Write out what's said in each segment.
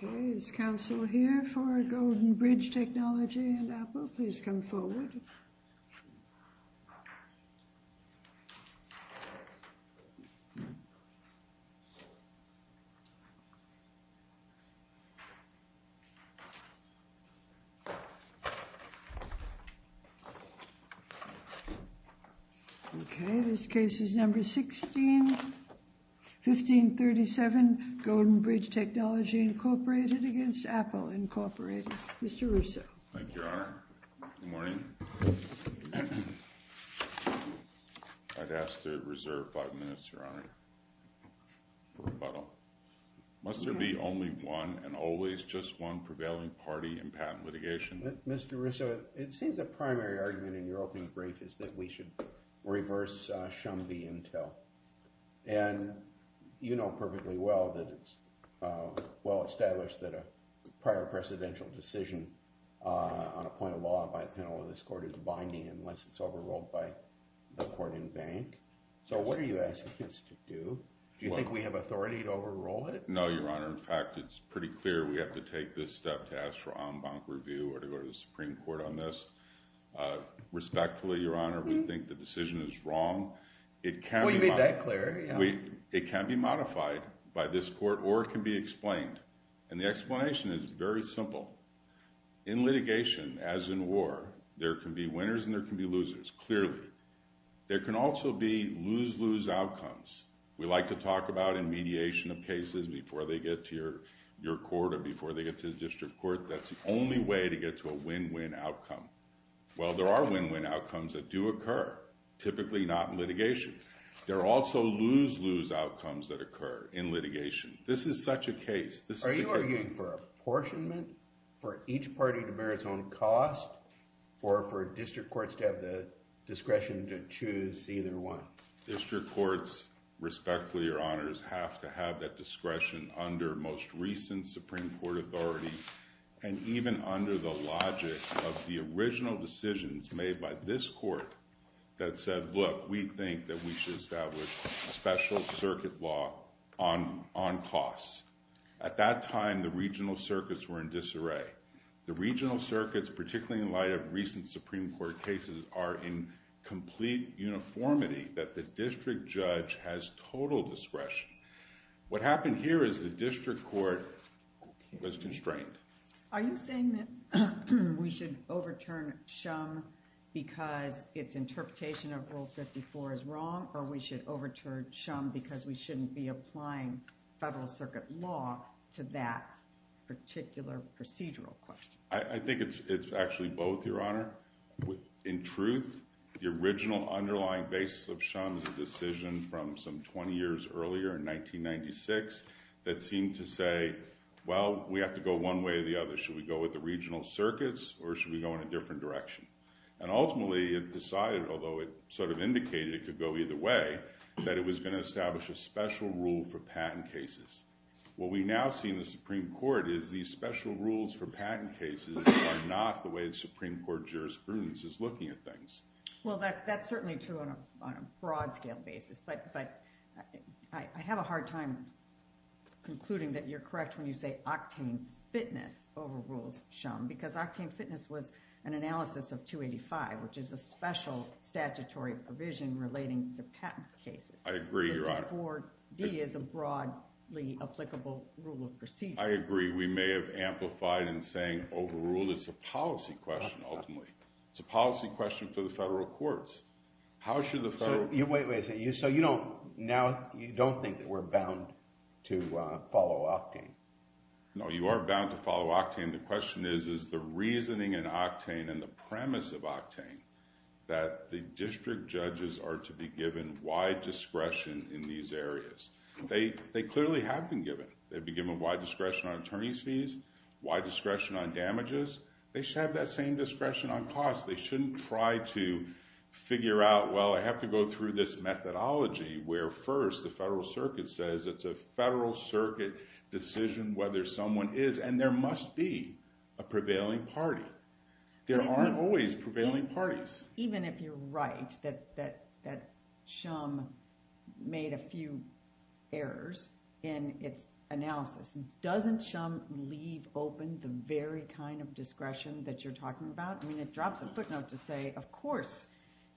Okay, this case is number 16, 1537, Golden Bridge Technology Incorporated against Apple Incorporated. Mr. Russo. Thank you, Your Honor. Good morning. I'd ask to reserve five minutes, Your Honor, for rebuttal. Must there be only one and always just one prevailing party in patent litigation? Mr. Russo, it seems the primary argument in your opening brief is that we should reverse Shumby Intel, and you know perfectly well that it's well-established that a prior presidential decision on a point of law by the panel of this court is binding unless it's overruled by the court in bank. So what are you asking us to do? Do you think we have authority to overrule it? No, Your Honor. In fact, it's pretty clear we have to take this step to ask for en banc review or to go to the Supreme Court on this. Respectfully, Your Honor, we think the decision is wrong. It can be- We made that clear, yeah. It can be modified by this court or it can be explained. And the explanation is very simple. In litigation, as in war, there can be winners and there can be losers, clearly. There can also be lose-lose outcomes. We like to talk about in mediation of cases before they get to your court or before they get to the district court, that's the only way to get to a win-win outcome. Well, there are win-win outcomes that do occur, typically not in litigation. There are also lose-lose outcomes that occur in litigation. This is such a case. Are you arguing for apportionment for each party to bear its own cost or for district courts to have the discretion to choose either one? District courts, respectfully, Your Honors, have to have that discretion under most recent Supreme Court authority and even under the logic of the original decisions made by this court that said, look, we think that we should establish special circuit law on costs. At that time, the regional circuits were in disarray. The regional circuits, particularly in light of recent Supreme Court cases, are in complete uniformity that the district judge has total discretion. What happened here is the district court was constrained. Are you saying that we should overturn Shum because its interpretation of Rule 54 is wrong or we should overturn Shum because we shouldn't be applying federal circuit law to that particular procedural question? I think it's actually both, Your Honor. In truth, the original underlying basis of Shum's decision from some 20 years earlier in 1996 that seemed to say, well, we have to go one way or the other. Should we go with the regional circuits or should we go in a different direction? And ultimately, it decided, although it sort of indicated it could go either way, that it was going to establish a special rule for patent cases. What we now see in the Supreme Court is these special rules for patent cases are not the way the Supreme Court jurisprudence is looking at things. Well, that's certainly true on a broad scale basis, but I have a hard time concluding that you're correct when you say octane fitness overrules Shum, because octane fitness was an analysis of 285, which is a special statutory provision relating to patent cases. I agree, Your Honor. But 4D is a broadly applicable rule of procedure. We may have amplified in saying overruled. It's a policy question, ultimately. It's a policy question for the federal courts. How should the federal... Wait a minute. So you don't think that we're bound to follow octane? No, you are bound to follow octane. The question is, is the reasoning in octane and the premise of octane that the district judges are to be given wide discretion in these areas? They clearly have been given. They've been given wide discretion on attorney's fees, wide discretion on damages. They should have that same discretion on costs. They shouldn't try to figure out, well, I have to go through this methodology where first the federal circuit says it's a federal circuit decision whether someone is, and there must be, a prevailing party. There aren't always prevailing parties. Even if you're right that Shum made a few errors in its analysis, doesn't Shum leave open the very kind of discretion that you're talking about? I mean, it drops a footnote to say, of course,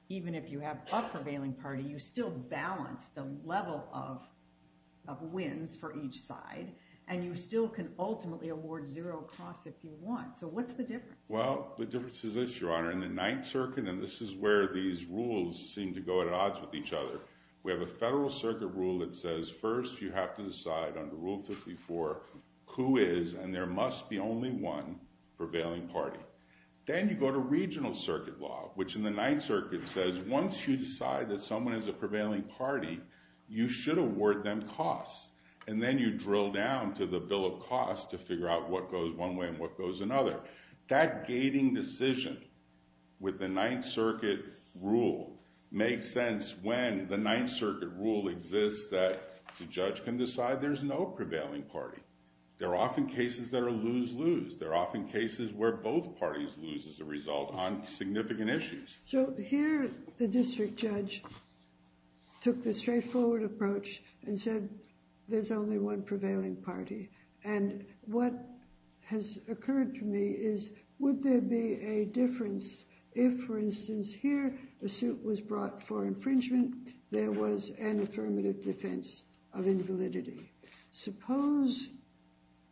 even if you have a prevailing party, you still balance the level of wins for each side, and you still can ultimately award zero costs if you want. So what's the difference? Well, the difference is this, Your Honor. In the Ninth Circuit, and this is where these rules seem to go at odds with each other, we have a federal circuit rule that says first you have to decide under Rule 54 who is, and there must be, only one prevailing party. Then you go to regional circuit law, which in the Ninth Circuit says once you decide that someone is a prevailing party, you should award them costs. And then you drill down to the bill of costs to figure out what goes one way and what goes another. That gating decision with the Ninth Circuit rule makes sense when the Ninth Circuit rule exists that the judge can decide there's no prevailing party. There are often cases that are lose-lose. There are often cases where both parties lose as a result on significant issues. So here the district judge took the straightforward approach and said there's only one prevailing party. And what has occurred to me is, would there be a difference if, for instance, here a suit was brought for infringement, there was an affirmative defense of invalidity? Suppose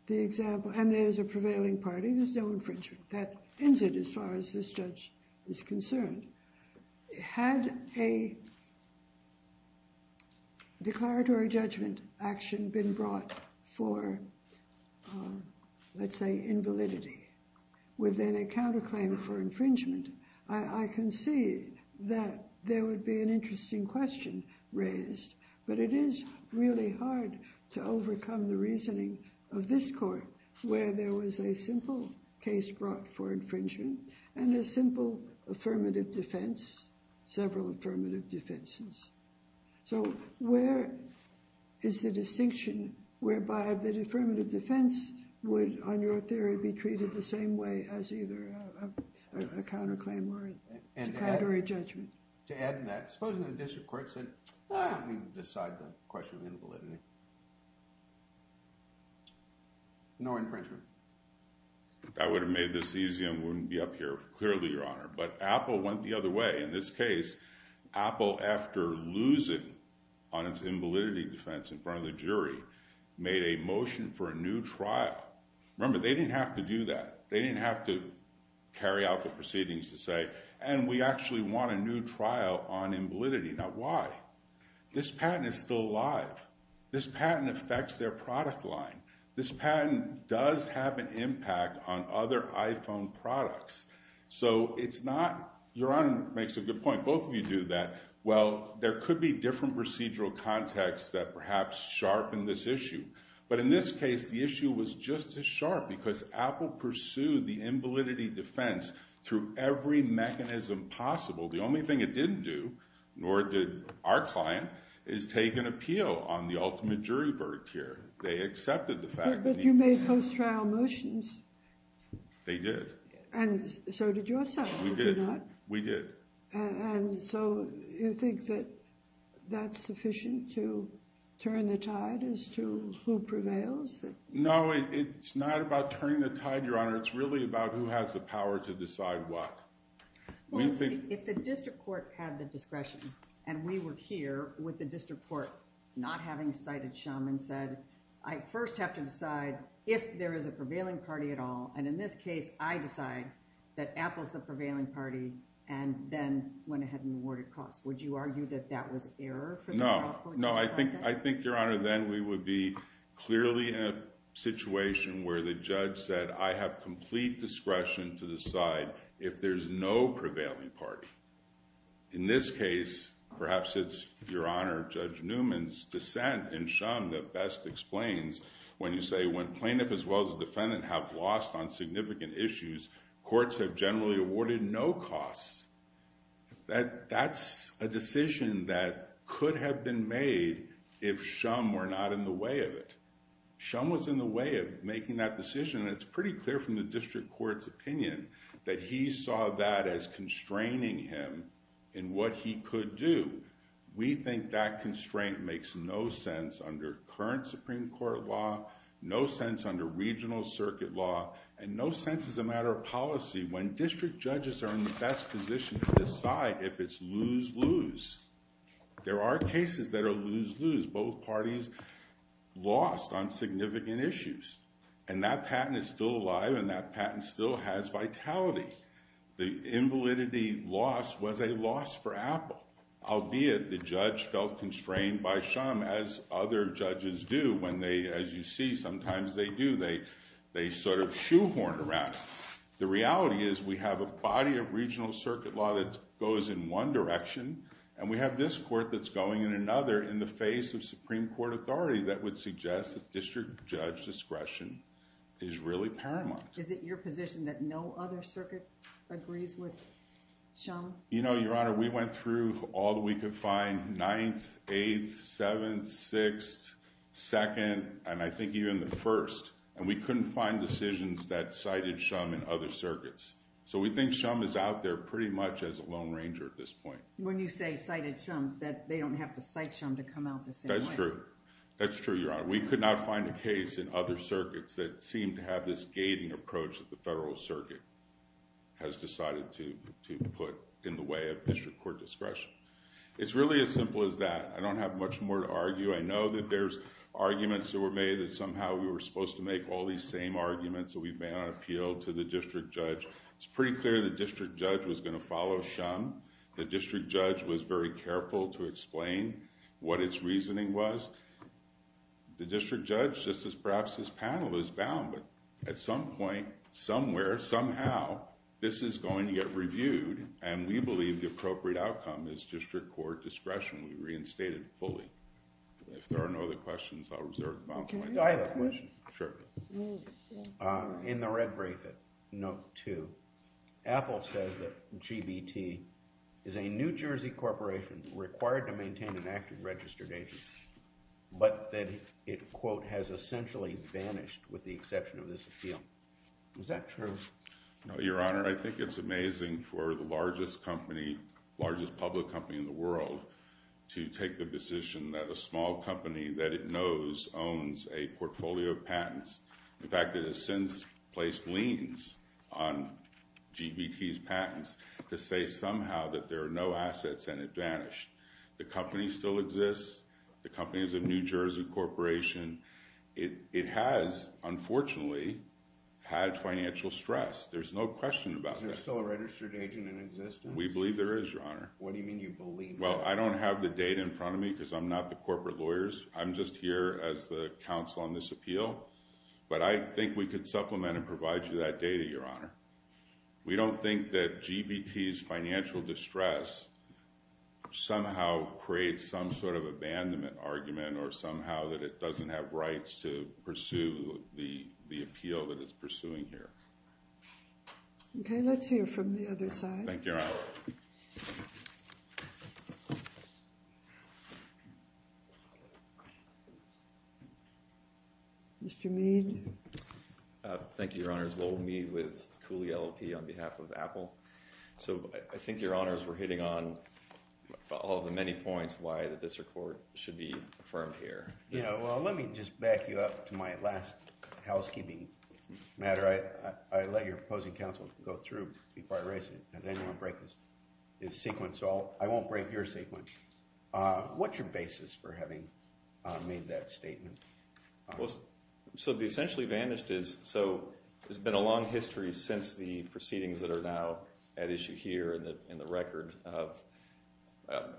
the example, and there's a prevailing party, there's no infringement. That ends it as far as this judge is concerned. Had a declaratory judgment action been brought for, let's say, invalidity within a counterclaim for infringement, I can see that there would be an interesting question raised. But it is really hard to overcome the reasoning of this court where there was a simple case brought for infringement and a simple affirmative defense, several affirmative defenses. So where is the distinction whereby the affirmative defense would, on your theory, be treated the same way as either a counterclaim or a declaratory judgment? To add to that, supposing the district court said, let me decide the question of invalidity. No infringement. That would have made this easy and wouldn't be up here, clearly, Your Honor. But Apple went the other way. In this case, Apple, after losing on its invalidity defense in front of the jury, made a motion for a new trial. Remember, they didn't have to do that. They didn't have to carry out the proceedings to say, and we actually want a new trial on invalidity. Now, why? This patent is still alive. This patent affects their product line. This patent does have an impact on other iPhone products. So it's not, Your Honor makes a good point, both of you do, that, well, there could be different procedural contexts that perhaps sharpen this issue. But in this case, the issue was just as sharp because Apple pursued the invalidity defense through every mechanism possible. The only thing it didn't do, nor did our client, is take an appeal on the ultimate jury verdict here. They accepted the fact that the— But you made post-trial motions. They did. And so did yourself, did you not? We did. We did. And so you think that that's sufficient to turn the tide as to who prevails? No, it's not about turning the tide, Your Honor. It's really about who has the power to decide what. We think— Well, if the district court had the discretion, and we were here with the district court not having cited Shum and said, I first have to decide if there is a prevailing party at all, and in this case, I decide that Apple's the prevailing party, and then went ahead and awarded costs, would you argue that that was error for Apple to decide that? No. No, I think, Your Honor, then we would be clearly in a situation where the judge said, I have complete discretion to decide if there's no prevailing party. In this case, perhaps it's Your Honor, Judge Newman's dissent in Shum that best explains when you say when plaintiff as well as the defendant have lost on significant issues, courts have generally awarded no costs. That's a decision that could have been made if Shum were not in the way of it. Shum was in the way of making that decision, and it's pretty clear from the district court's opinion that he saw that as constraining him in what he could do. We think that constraint makes no sense under current Supreme Court law, no sense under regional circuit law, and no sense as a matter of policy when district judges are in the best position to decide if it's lose-lose. There are cases that are lose-lose, both parties lost on significant issues, and that patent is still alive, and that patent still has vitality. The invalidity loss was a loss for Apple. Albeit, the judge felt constrained by Shum, as other judges do when they, as you see, sometimes they do, they sort of shoehorn around. The reality is we have a body of regional circuit law that goes in one direction, and we have this court that's going in another in the face of Supreme Court authority that would suggest that district judge discretion is really paramount. Is it your position that no other circuit agrees with Shum? You know, Your Honor, we went through all that we could find, 9th, 8th, 7th, 6th, 2nd, and I think even the 1st, and we couldn't find decisions that cited Shum in other circuits. So we think Shum is out there pretty much as a lone ranger at this point. When you say cited Shum, that they don't have to cite Shum to come out the same way? That's true. That's true, Your Honor. We could not find a case in other circuits that seemed to have this gating approach that the federal circuit has decided to put in the way of district court discretion. It's really as simple as that. I don't have much more to argue. I know that there's arguments that were made that somehow we were supposed to make all these same arguments that we've made on appeal to the district judge. It's pretty clear the district judge was going to follow Shum. The district judge was very careful to explain what its reasoning was. The district judge says perhaps this panel is bound, but at some point, somewhere, somehow, this is going to get reviewed, and we believe the appropriate outcome is district court discretion. We reinstate it fully. If there are no other questions, I'll reserve the balance of my time. Do I have a question? Sure. In the red bracket, note 2, Apple says that GBT is a New Jersey corporation required to but that it, quote, has essentially vanished with the exception of this appeal. Is that true? No, Your Honor. I think it's amazing for the largest company, largest public company in the world, to take the position that a small company that it knows owns a portfolio of patents. In fact, it has since placed liens on GBT's patents to say somehow that there are no assets and it vanished. The company still exists. The company is a New Jersey corporation. It has, unfortunately, had financial stress. There's no question about that. Is there still a registered agent in existence? We believe there is, Your Honor. What do you mean, you believe? Well, I don't have the data in front of me because I'm not the corporate lawyers. I'm just here as the counsel on this appeal, but I think we could supplement and provide you that data, Your Honor. We don't think that GBT's financial distress somehow creates some sort of abandonment argument or somehow that it doesn't have rights to pursue the appeal that it's pursuing here. Okay, let's hear from the other side. Thank you, Your Honor. Mr. Mead. Thank you, Your Honors. Lowell Mead with Cooley LLP on behalf of Apple. So I think, Your Honors, we're hitting on all of the many points why the district court should be affirmed here. Yeah, well, let me just back you up to my last housekeeping matter. I let your opposing counsel go through before I raise it. Does anyone break this sequence? I won't break your sequence. What's your basis for having made that statement? Well, so the essentially vanished is, so there's been a long history since the proceedings that are now at issue here in the record of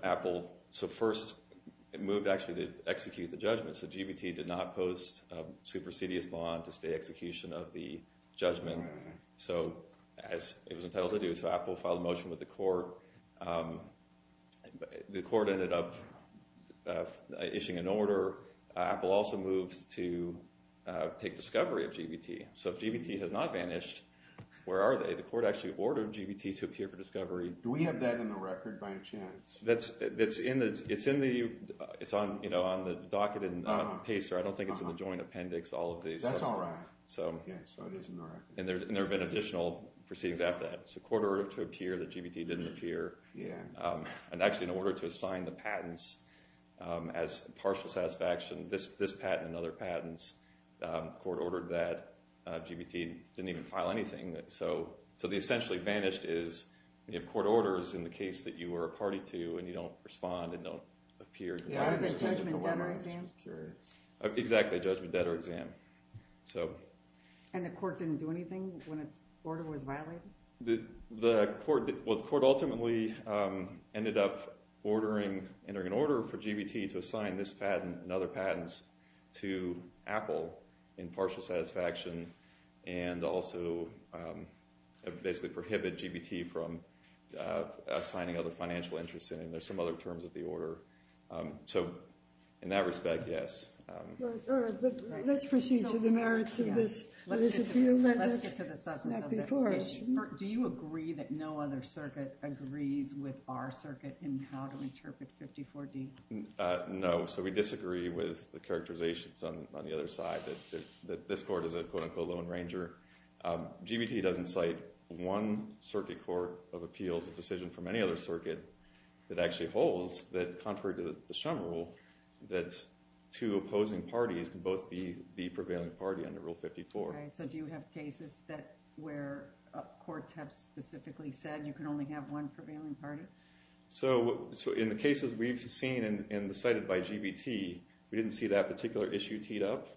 Apple. So first, it moved actually to execute the judgment, so GBT did not post a supersedious bond to stay execution of the judgment. So as it was entitled to do, so Apple filed a motion with the court. The court ended up issuing an order. However, Apple also moved to take discovery of GBT. So if GBT has not vanished, where are they? The court actually ordered GBT to appear for discovery. Do we have that in the record by any chance? It's in the, it's on, you know, on the docket and on the pacer. I don't think it's in the joint appendix, all of these. That's all right. Yeah, so it is in the record. And there have been additional proceedings after that. So the court ordered it to appear that GBT didn't appear, and actually in order to assign the patents as partial satisfaction, this patent and other patents, the court ordered that GBT didn't even file anything. So the essentially vanished is, you have court orders in the case that you were a party to and you don't respond and don't appear. Yeah, was it a judgment, debt, or exam? Exactly, a judgment, debt, or exam. And the court didn't do anything when its order was violated? Well, the court ultimately ended up ordering, entering an order for GBT to assign this patent and other patents to Apple in partial satisfaction, and also basically prohibit GBT from assigning other financial interests in it, and there's some other terms of the order. So in that respect, yes. All right, but let's proceed to the merits of this. Let's get to the substance of that. Do you agree that no other circuit agrees with our circuit in how to interpret 54D? No, so we disagree with the characterizations on the other side, that this court is a quote unquote lone ranger. GBT doesn't cite one circuit court of appeals decision from any other circuit that actually holds that contrary to the Shum Rule, that two opposing parties can both be the prevailing party under Rule 54. All right, so do you have cases that where courts have specifically said you can only have one prevailing party? So in the cases we've seen and cited by GBT, we didn't see that particular issue teed up,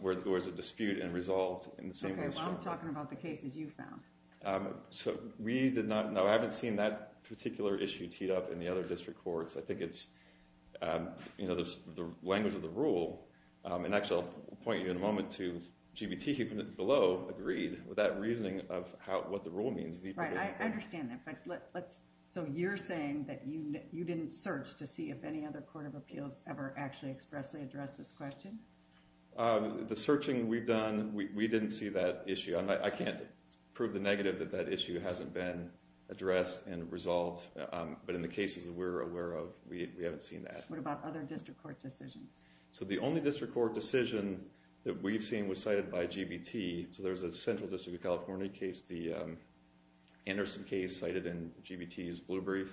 where there was a dispute and resolved in the same way as Shum Rule. Okay, well I'm talking about the cases you found. So we did not, no, I haven't seen that particular issue teed up in the other district courts. I think it's, you know, the language of the rule, and actually I'll point you in a moment to GBT below agreed with that reasoning of what the rule means. Right, I understand that, but let's, so you're saying that you didn't search to see if any other court of appeals ever actually expressly addressed this question? The searching we've done, we didn't see that issue. I can't prove the negative that that issue hasn't been addressed and resolved, but in the cases that we're aware of, we haven't seen that. What about other district court decisions? So the only district court decision that we've seen was cited by GBT, so there's a central district of California case, the Anderson case cited in GBT's blue brief.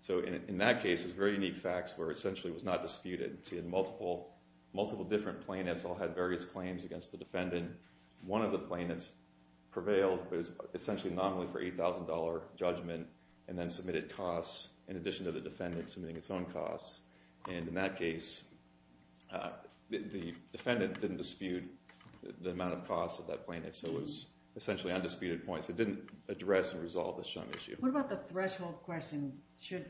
So in that case, it was very unique facts where essentially it was not disputed. It had multiple, multiple different plaintiffs all had various claims against the defendant. One of the plaintiffs prevailed, but it was essentially an anomaly for $8,000 judgment and then submitted costs in addition to the defendant submitting its own costs. And in that case, the defendant didn't dispute the amount of costs of that plaintiff, so it was essentially undisputed points. It didn't address and resolve this issue. What about the threshold question? Should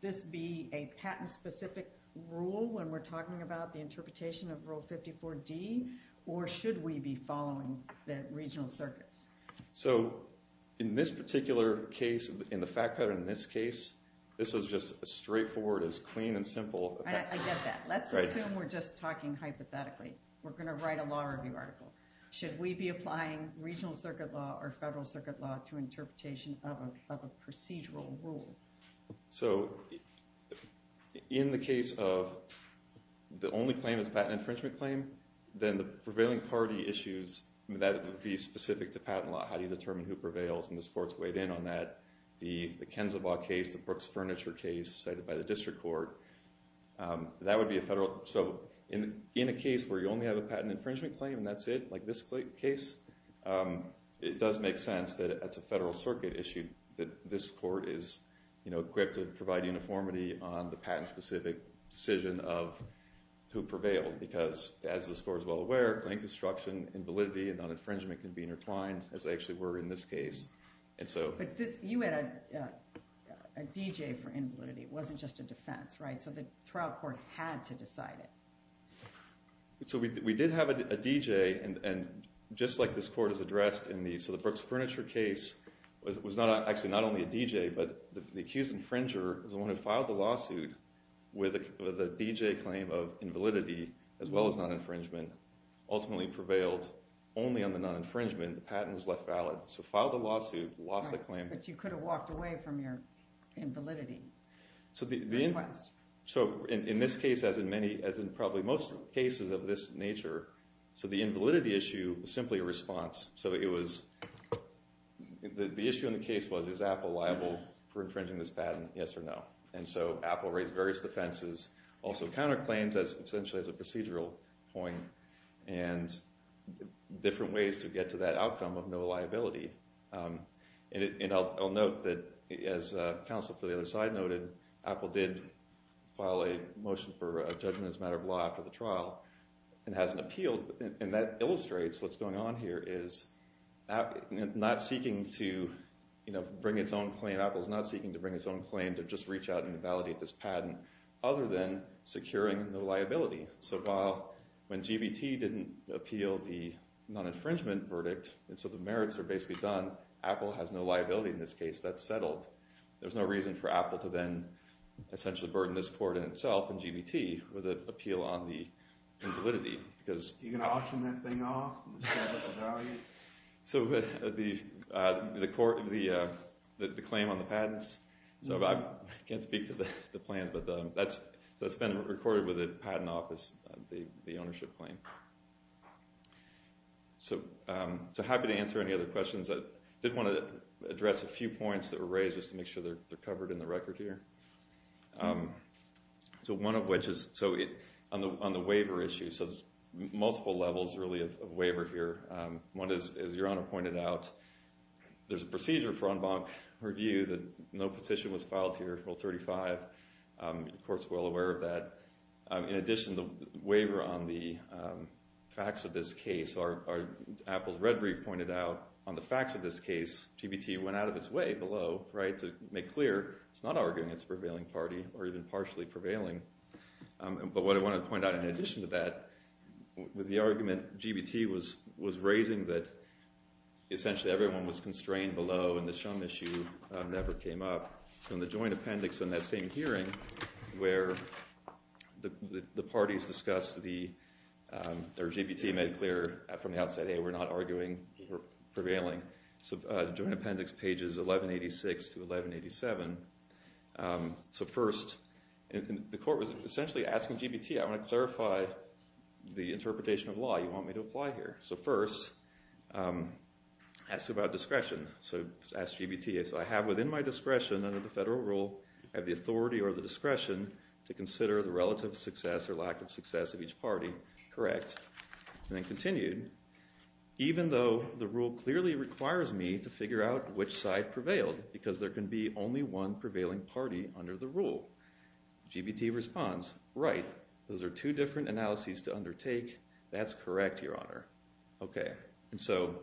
this be a patent-specific rule when we're talking about the interpretation of Rule 54D, or should we be following the regional circuits? So in this particular case, in the fact pattern in this case, this was just a straightforward, as clean and simple as that. I get that. Let's assume we're just talking hypothetically. We're going to write a law review article. Should we be applying regional circuit law or federal circuit law to interpretation of a procedural rule? So in the case of the only claim is a patent infringement claim, then the prevailing party issues that would be specific to patent law. How do you determine who prevails? And this court's weighed in on that. The Kensalbaugh case, the Brooks Furniture case cited by the district court, that would be a federal. So in a case where you only have a patent infringement claim and that's it, like this case, it does make sense that it's a federal circuit issue, that this court is equipped to provide uniformity on the patent-specific decision of who prevailed. Because, as this court is well aware, claim construction, invalidity, and non-infringement can be intertwined, as they actually were in this case. But you had a D.J. for invalidity. It wasn't just a defense, right? So the trial court had to decide it. We did have a D.J., and just like this court has addressed in the Brooks Furniture case, it was actually not only a D.J., but the accused infringer was the one who filed the lawsuit with a D.J. claim of invalidity as well as non-infringement, ultimately prevailed only on the non-infringement. The patent was left valid. So filed the lawsuit, lost the claim. But you could have walked away from your invalidity request. So in this case, as in probably most cases of this nature, so the invalidity issue was simply a response. So the issue in the case was, is Apple liable for infringing this patent, yes or no? And so Apple raised various defenses, also counterclaims, essentially as a procedural point, and different ways to get to that outcome of no liability. And I'll note that, as counsel for the other side noted, Apple did file a motion for a judgment as a matter of law after the trial and hasn't appealed. And that illustrates what's going on here is not seeking to bring its own claim. Apple is not seeking to bring its own claim, to just reach out and validate this patent, other than securing no liability. So when GBT didn't appeal the non-infringement verdict, and so the merits are basically done, Apple has no liability in this case. That's settled. There's no reason for Apple to then essentially burden this court in itself and GBT with an appeal on the invalidity. Are you going to auction that thing off? So the claim on the patents, I can't speak to the plans, but that's been recorded with the Patent Office, the ownership claim. So happy to answer any other questions. I did want to address a few points that were raised just to make sure they're covered in the record here. So one of which is on the waiver issue, so there's multiple levels really of waiver here. One is, as Your Honor pointed out, there's a procedure for en banc review that no petition was filed here, Rule 35. The court's well aware of that. In addition, the waiver on the facts of this case, Apple's red brief pointed out on the facts of this case, GBT went out of its way below to make clear it's not arguing it's a prevailing party or even partially prevailing. But what I want to point out in addition to that, with the argument GBT was raising that essentially everyone was constrained below and the Shum issue never came up. So in the joint appendix on that same hearing where the parties discussed, or GBT made clear from the outset, hey, we're not arguing, we're prevailing. So joint appendix pages 1186 to 1187. So first, the court was essentially asking GBT, I want to clarify the interpretation of law you want me to apply here. So first, ask about discretion. So ask GBT, so I have within my discretion under the federal rule, I have the authority or the discretion to consider the relative success or lack of success of each party correct. And then continued, even though the rule clearly requires me to figure out which side prevailed because there can be only one prevailing party under the rule. GBT responds, right. Those are two different analyses to undertake. That's correct, Your Honor. Okay. And so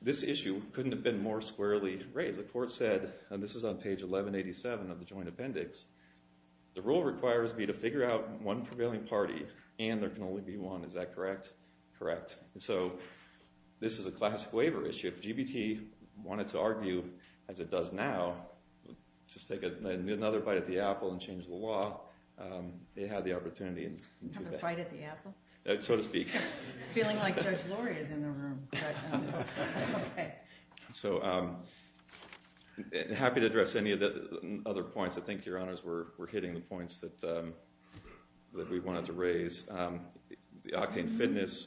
this issue couldn't have been more squarely raised. The court said, and this is on page 1187 of the joint appendix, the rule requires me to figure out one prevailing party and there can only be one. Is that correct? Correct. So this is a classic waiver issue. If GBT wanted to argue as it does now, just take another bite at the apple and change the law, they had the opportunity to do that. Another bite at the apple? So to speak. Feeling like Judge Laurie is in the room. Okay. So happy to address any of the other points. I think, Your Honors, we're hitting the points that we wanted to raise. The octane fitness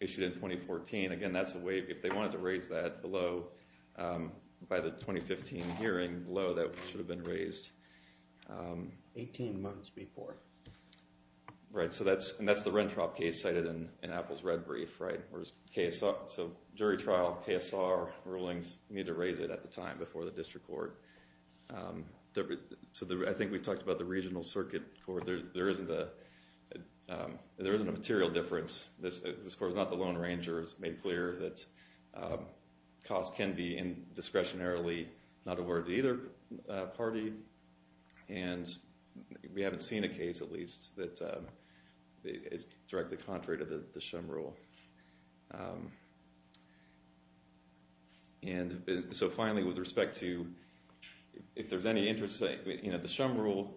issued in 2014, again, that's a waiver. If they wanted to raise that below, by the 2015 hearing below, that should have been raised. Eighteen months before. Right. And that's the Rentrop case cited in Apple's red brief, right. So jury trial, KSR, rulings, need to raise it at the time before the district court. So I think we talked about the regional circuit court. There isn't a material difference. This court is not the Lone Ranger. It's made clear that costs can be discretionarily not awarded to either party. And we haven't seen a case, at least, that is directly contrary to the Shum Rule. And so finally, with respect to if there's any interest, you know, the Shum Rule,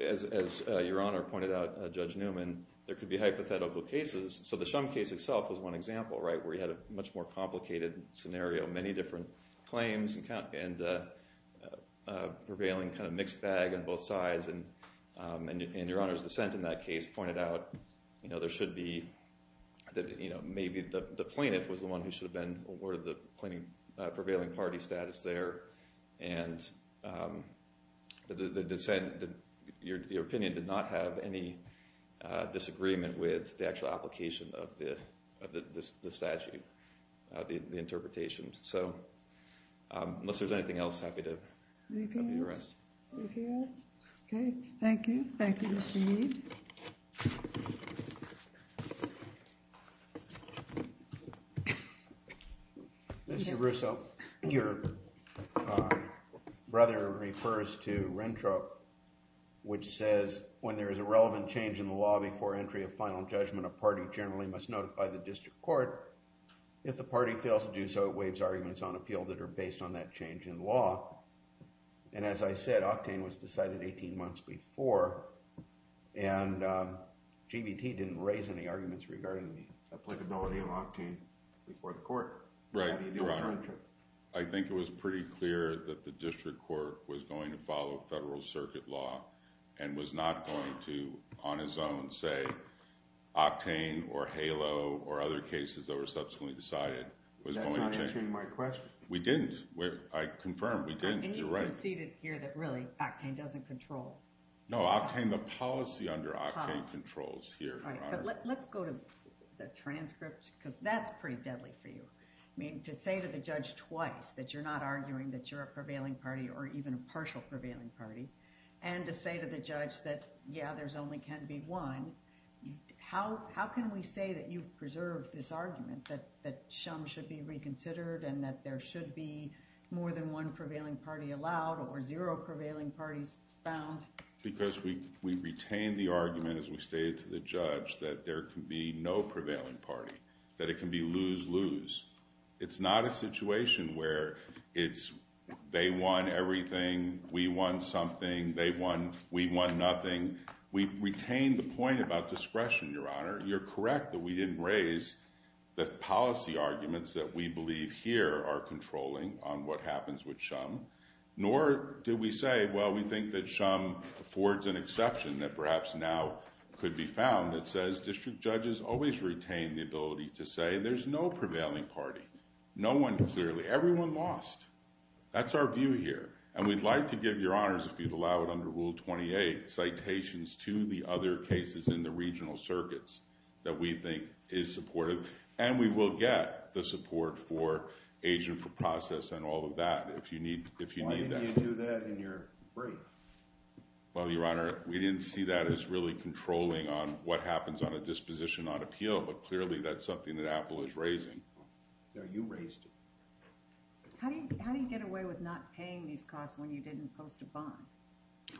as Your Honor pointed out, Judge Newman, there could be hypothetical cases. So the Shum case itself was one example, right, where you had a much more complicated scenario. Many different claims and prevailing kind of mixed bag on both sides. And Your Honor's dissent in that case pointed out, you know, there should be, you know, maybe the plaintiff was the one who should have been awarded the prevailing party status there. And the dissent, your opinion, did not have any disagreement with the actual application of the statute, the interpretation. So unless there's anything else, I'm happy to rest. Anything else? Okay, thank you. Thank you, Mr. Mead. Mr. Russo, your brother refers to RENTRA, which says, when there is a relevant change in the law before entry of final judgment, a party generally must notify the district court. If the party fails to do so, it waives arguments on appeal that are based on that change in law. And as I said, Octane was decided 18 months before, and GBT didn't raise any arguments regarding the applicability of Octane before the court. Right, Your Honor. How do you deal with RENTRA? I think it was pretty clear that the district court was going to follow federal circuit law and was not going to, on its own, say Octane or HALO or other cases that were subsequently decided. That's not answering my question. We didn't. I confirm, we didn't. And you conceded here that really, Octane doesn't control. No, Octane, the policy under Octane controls here, Your Honor. Let's go to the transcript, because that's pretty deadly for you. I mean, to say to the judge twice that you're not arguing that you're a prevailing party or even a partial prevailing party, and to say to the judge that, yeah, there only can be one, how can we say that you've preserved this argument that some should be reconsidered and that there should be more than one prevailing party allowed or zero prevailing parties found? Because we retained the argument as we stated to the judge that there can be no prevailing party, that it can be lose-lose. It's not a situation where it's they won everything, we won something, they won, we won nothing. We retained the point about discretion, Your Honor. You're correct that we didn't raise the policy arguments that we believe here are controlling on what happens with Shum, nor did we say, well, we think that Shum affords an exception that perhaps now could be found that says district judges always retain the ability to say there's no prevailing party, no one clearly. Everyone lost. That's our view here. And we'd like to give, Your Honors, if you'd allow it under Rule 28, citations to the other cases in the regional circuits that we think is supportive, and we will get the support for agent for process and all of that if you need that. Why didn't you do that in your brief? Well, Your Honor, we didn't see that as really controlling on what happens on a disposition on appeal, but clearly that's something that Apple is raising. No, you raised it. How do you get away with not paying these costs when you didn't post a bond?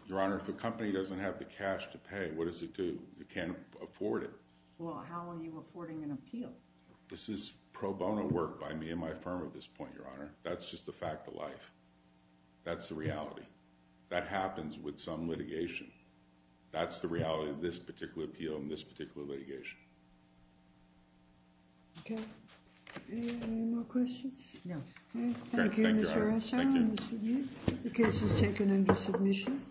Your Honor, if a company doesn't have the cash to pay, what does it do? It can't afford it. Well, how are you affording an appeal? This is pro bono work by me and my firm at this point, Your Honor. That's just a fact of life. That's the reality. That happens with some litigation. That's the reality of this particular appeal and this particular litigation. Okay. Any more questions? No. Thank you, Mr. O'Shaughnessy. Thank you, Mr. B. The case is taken into submission.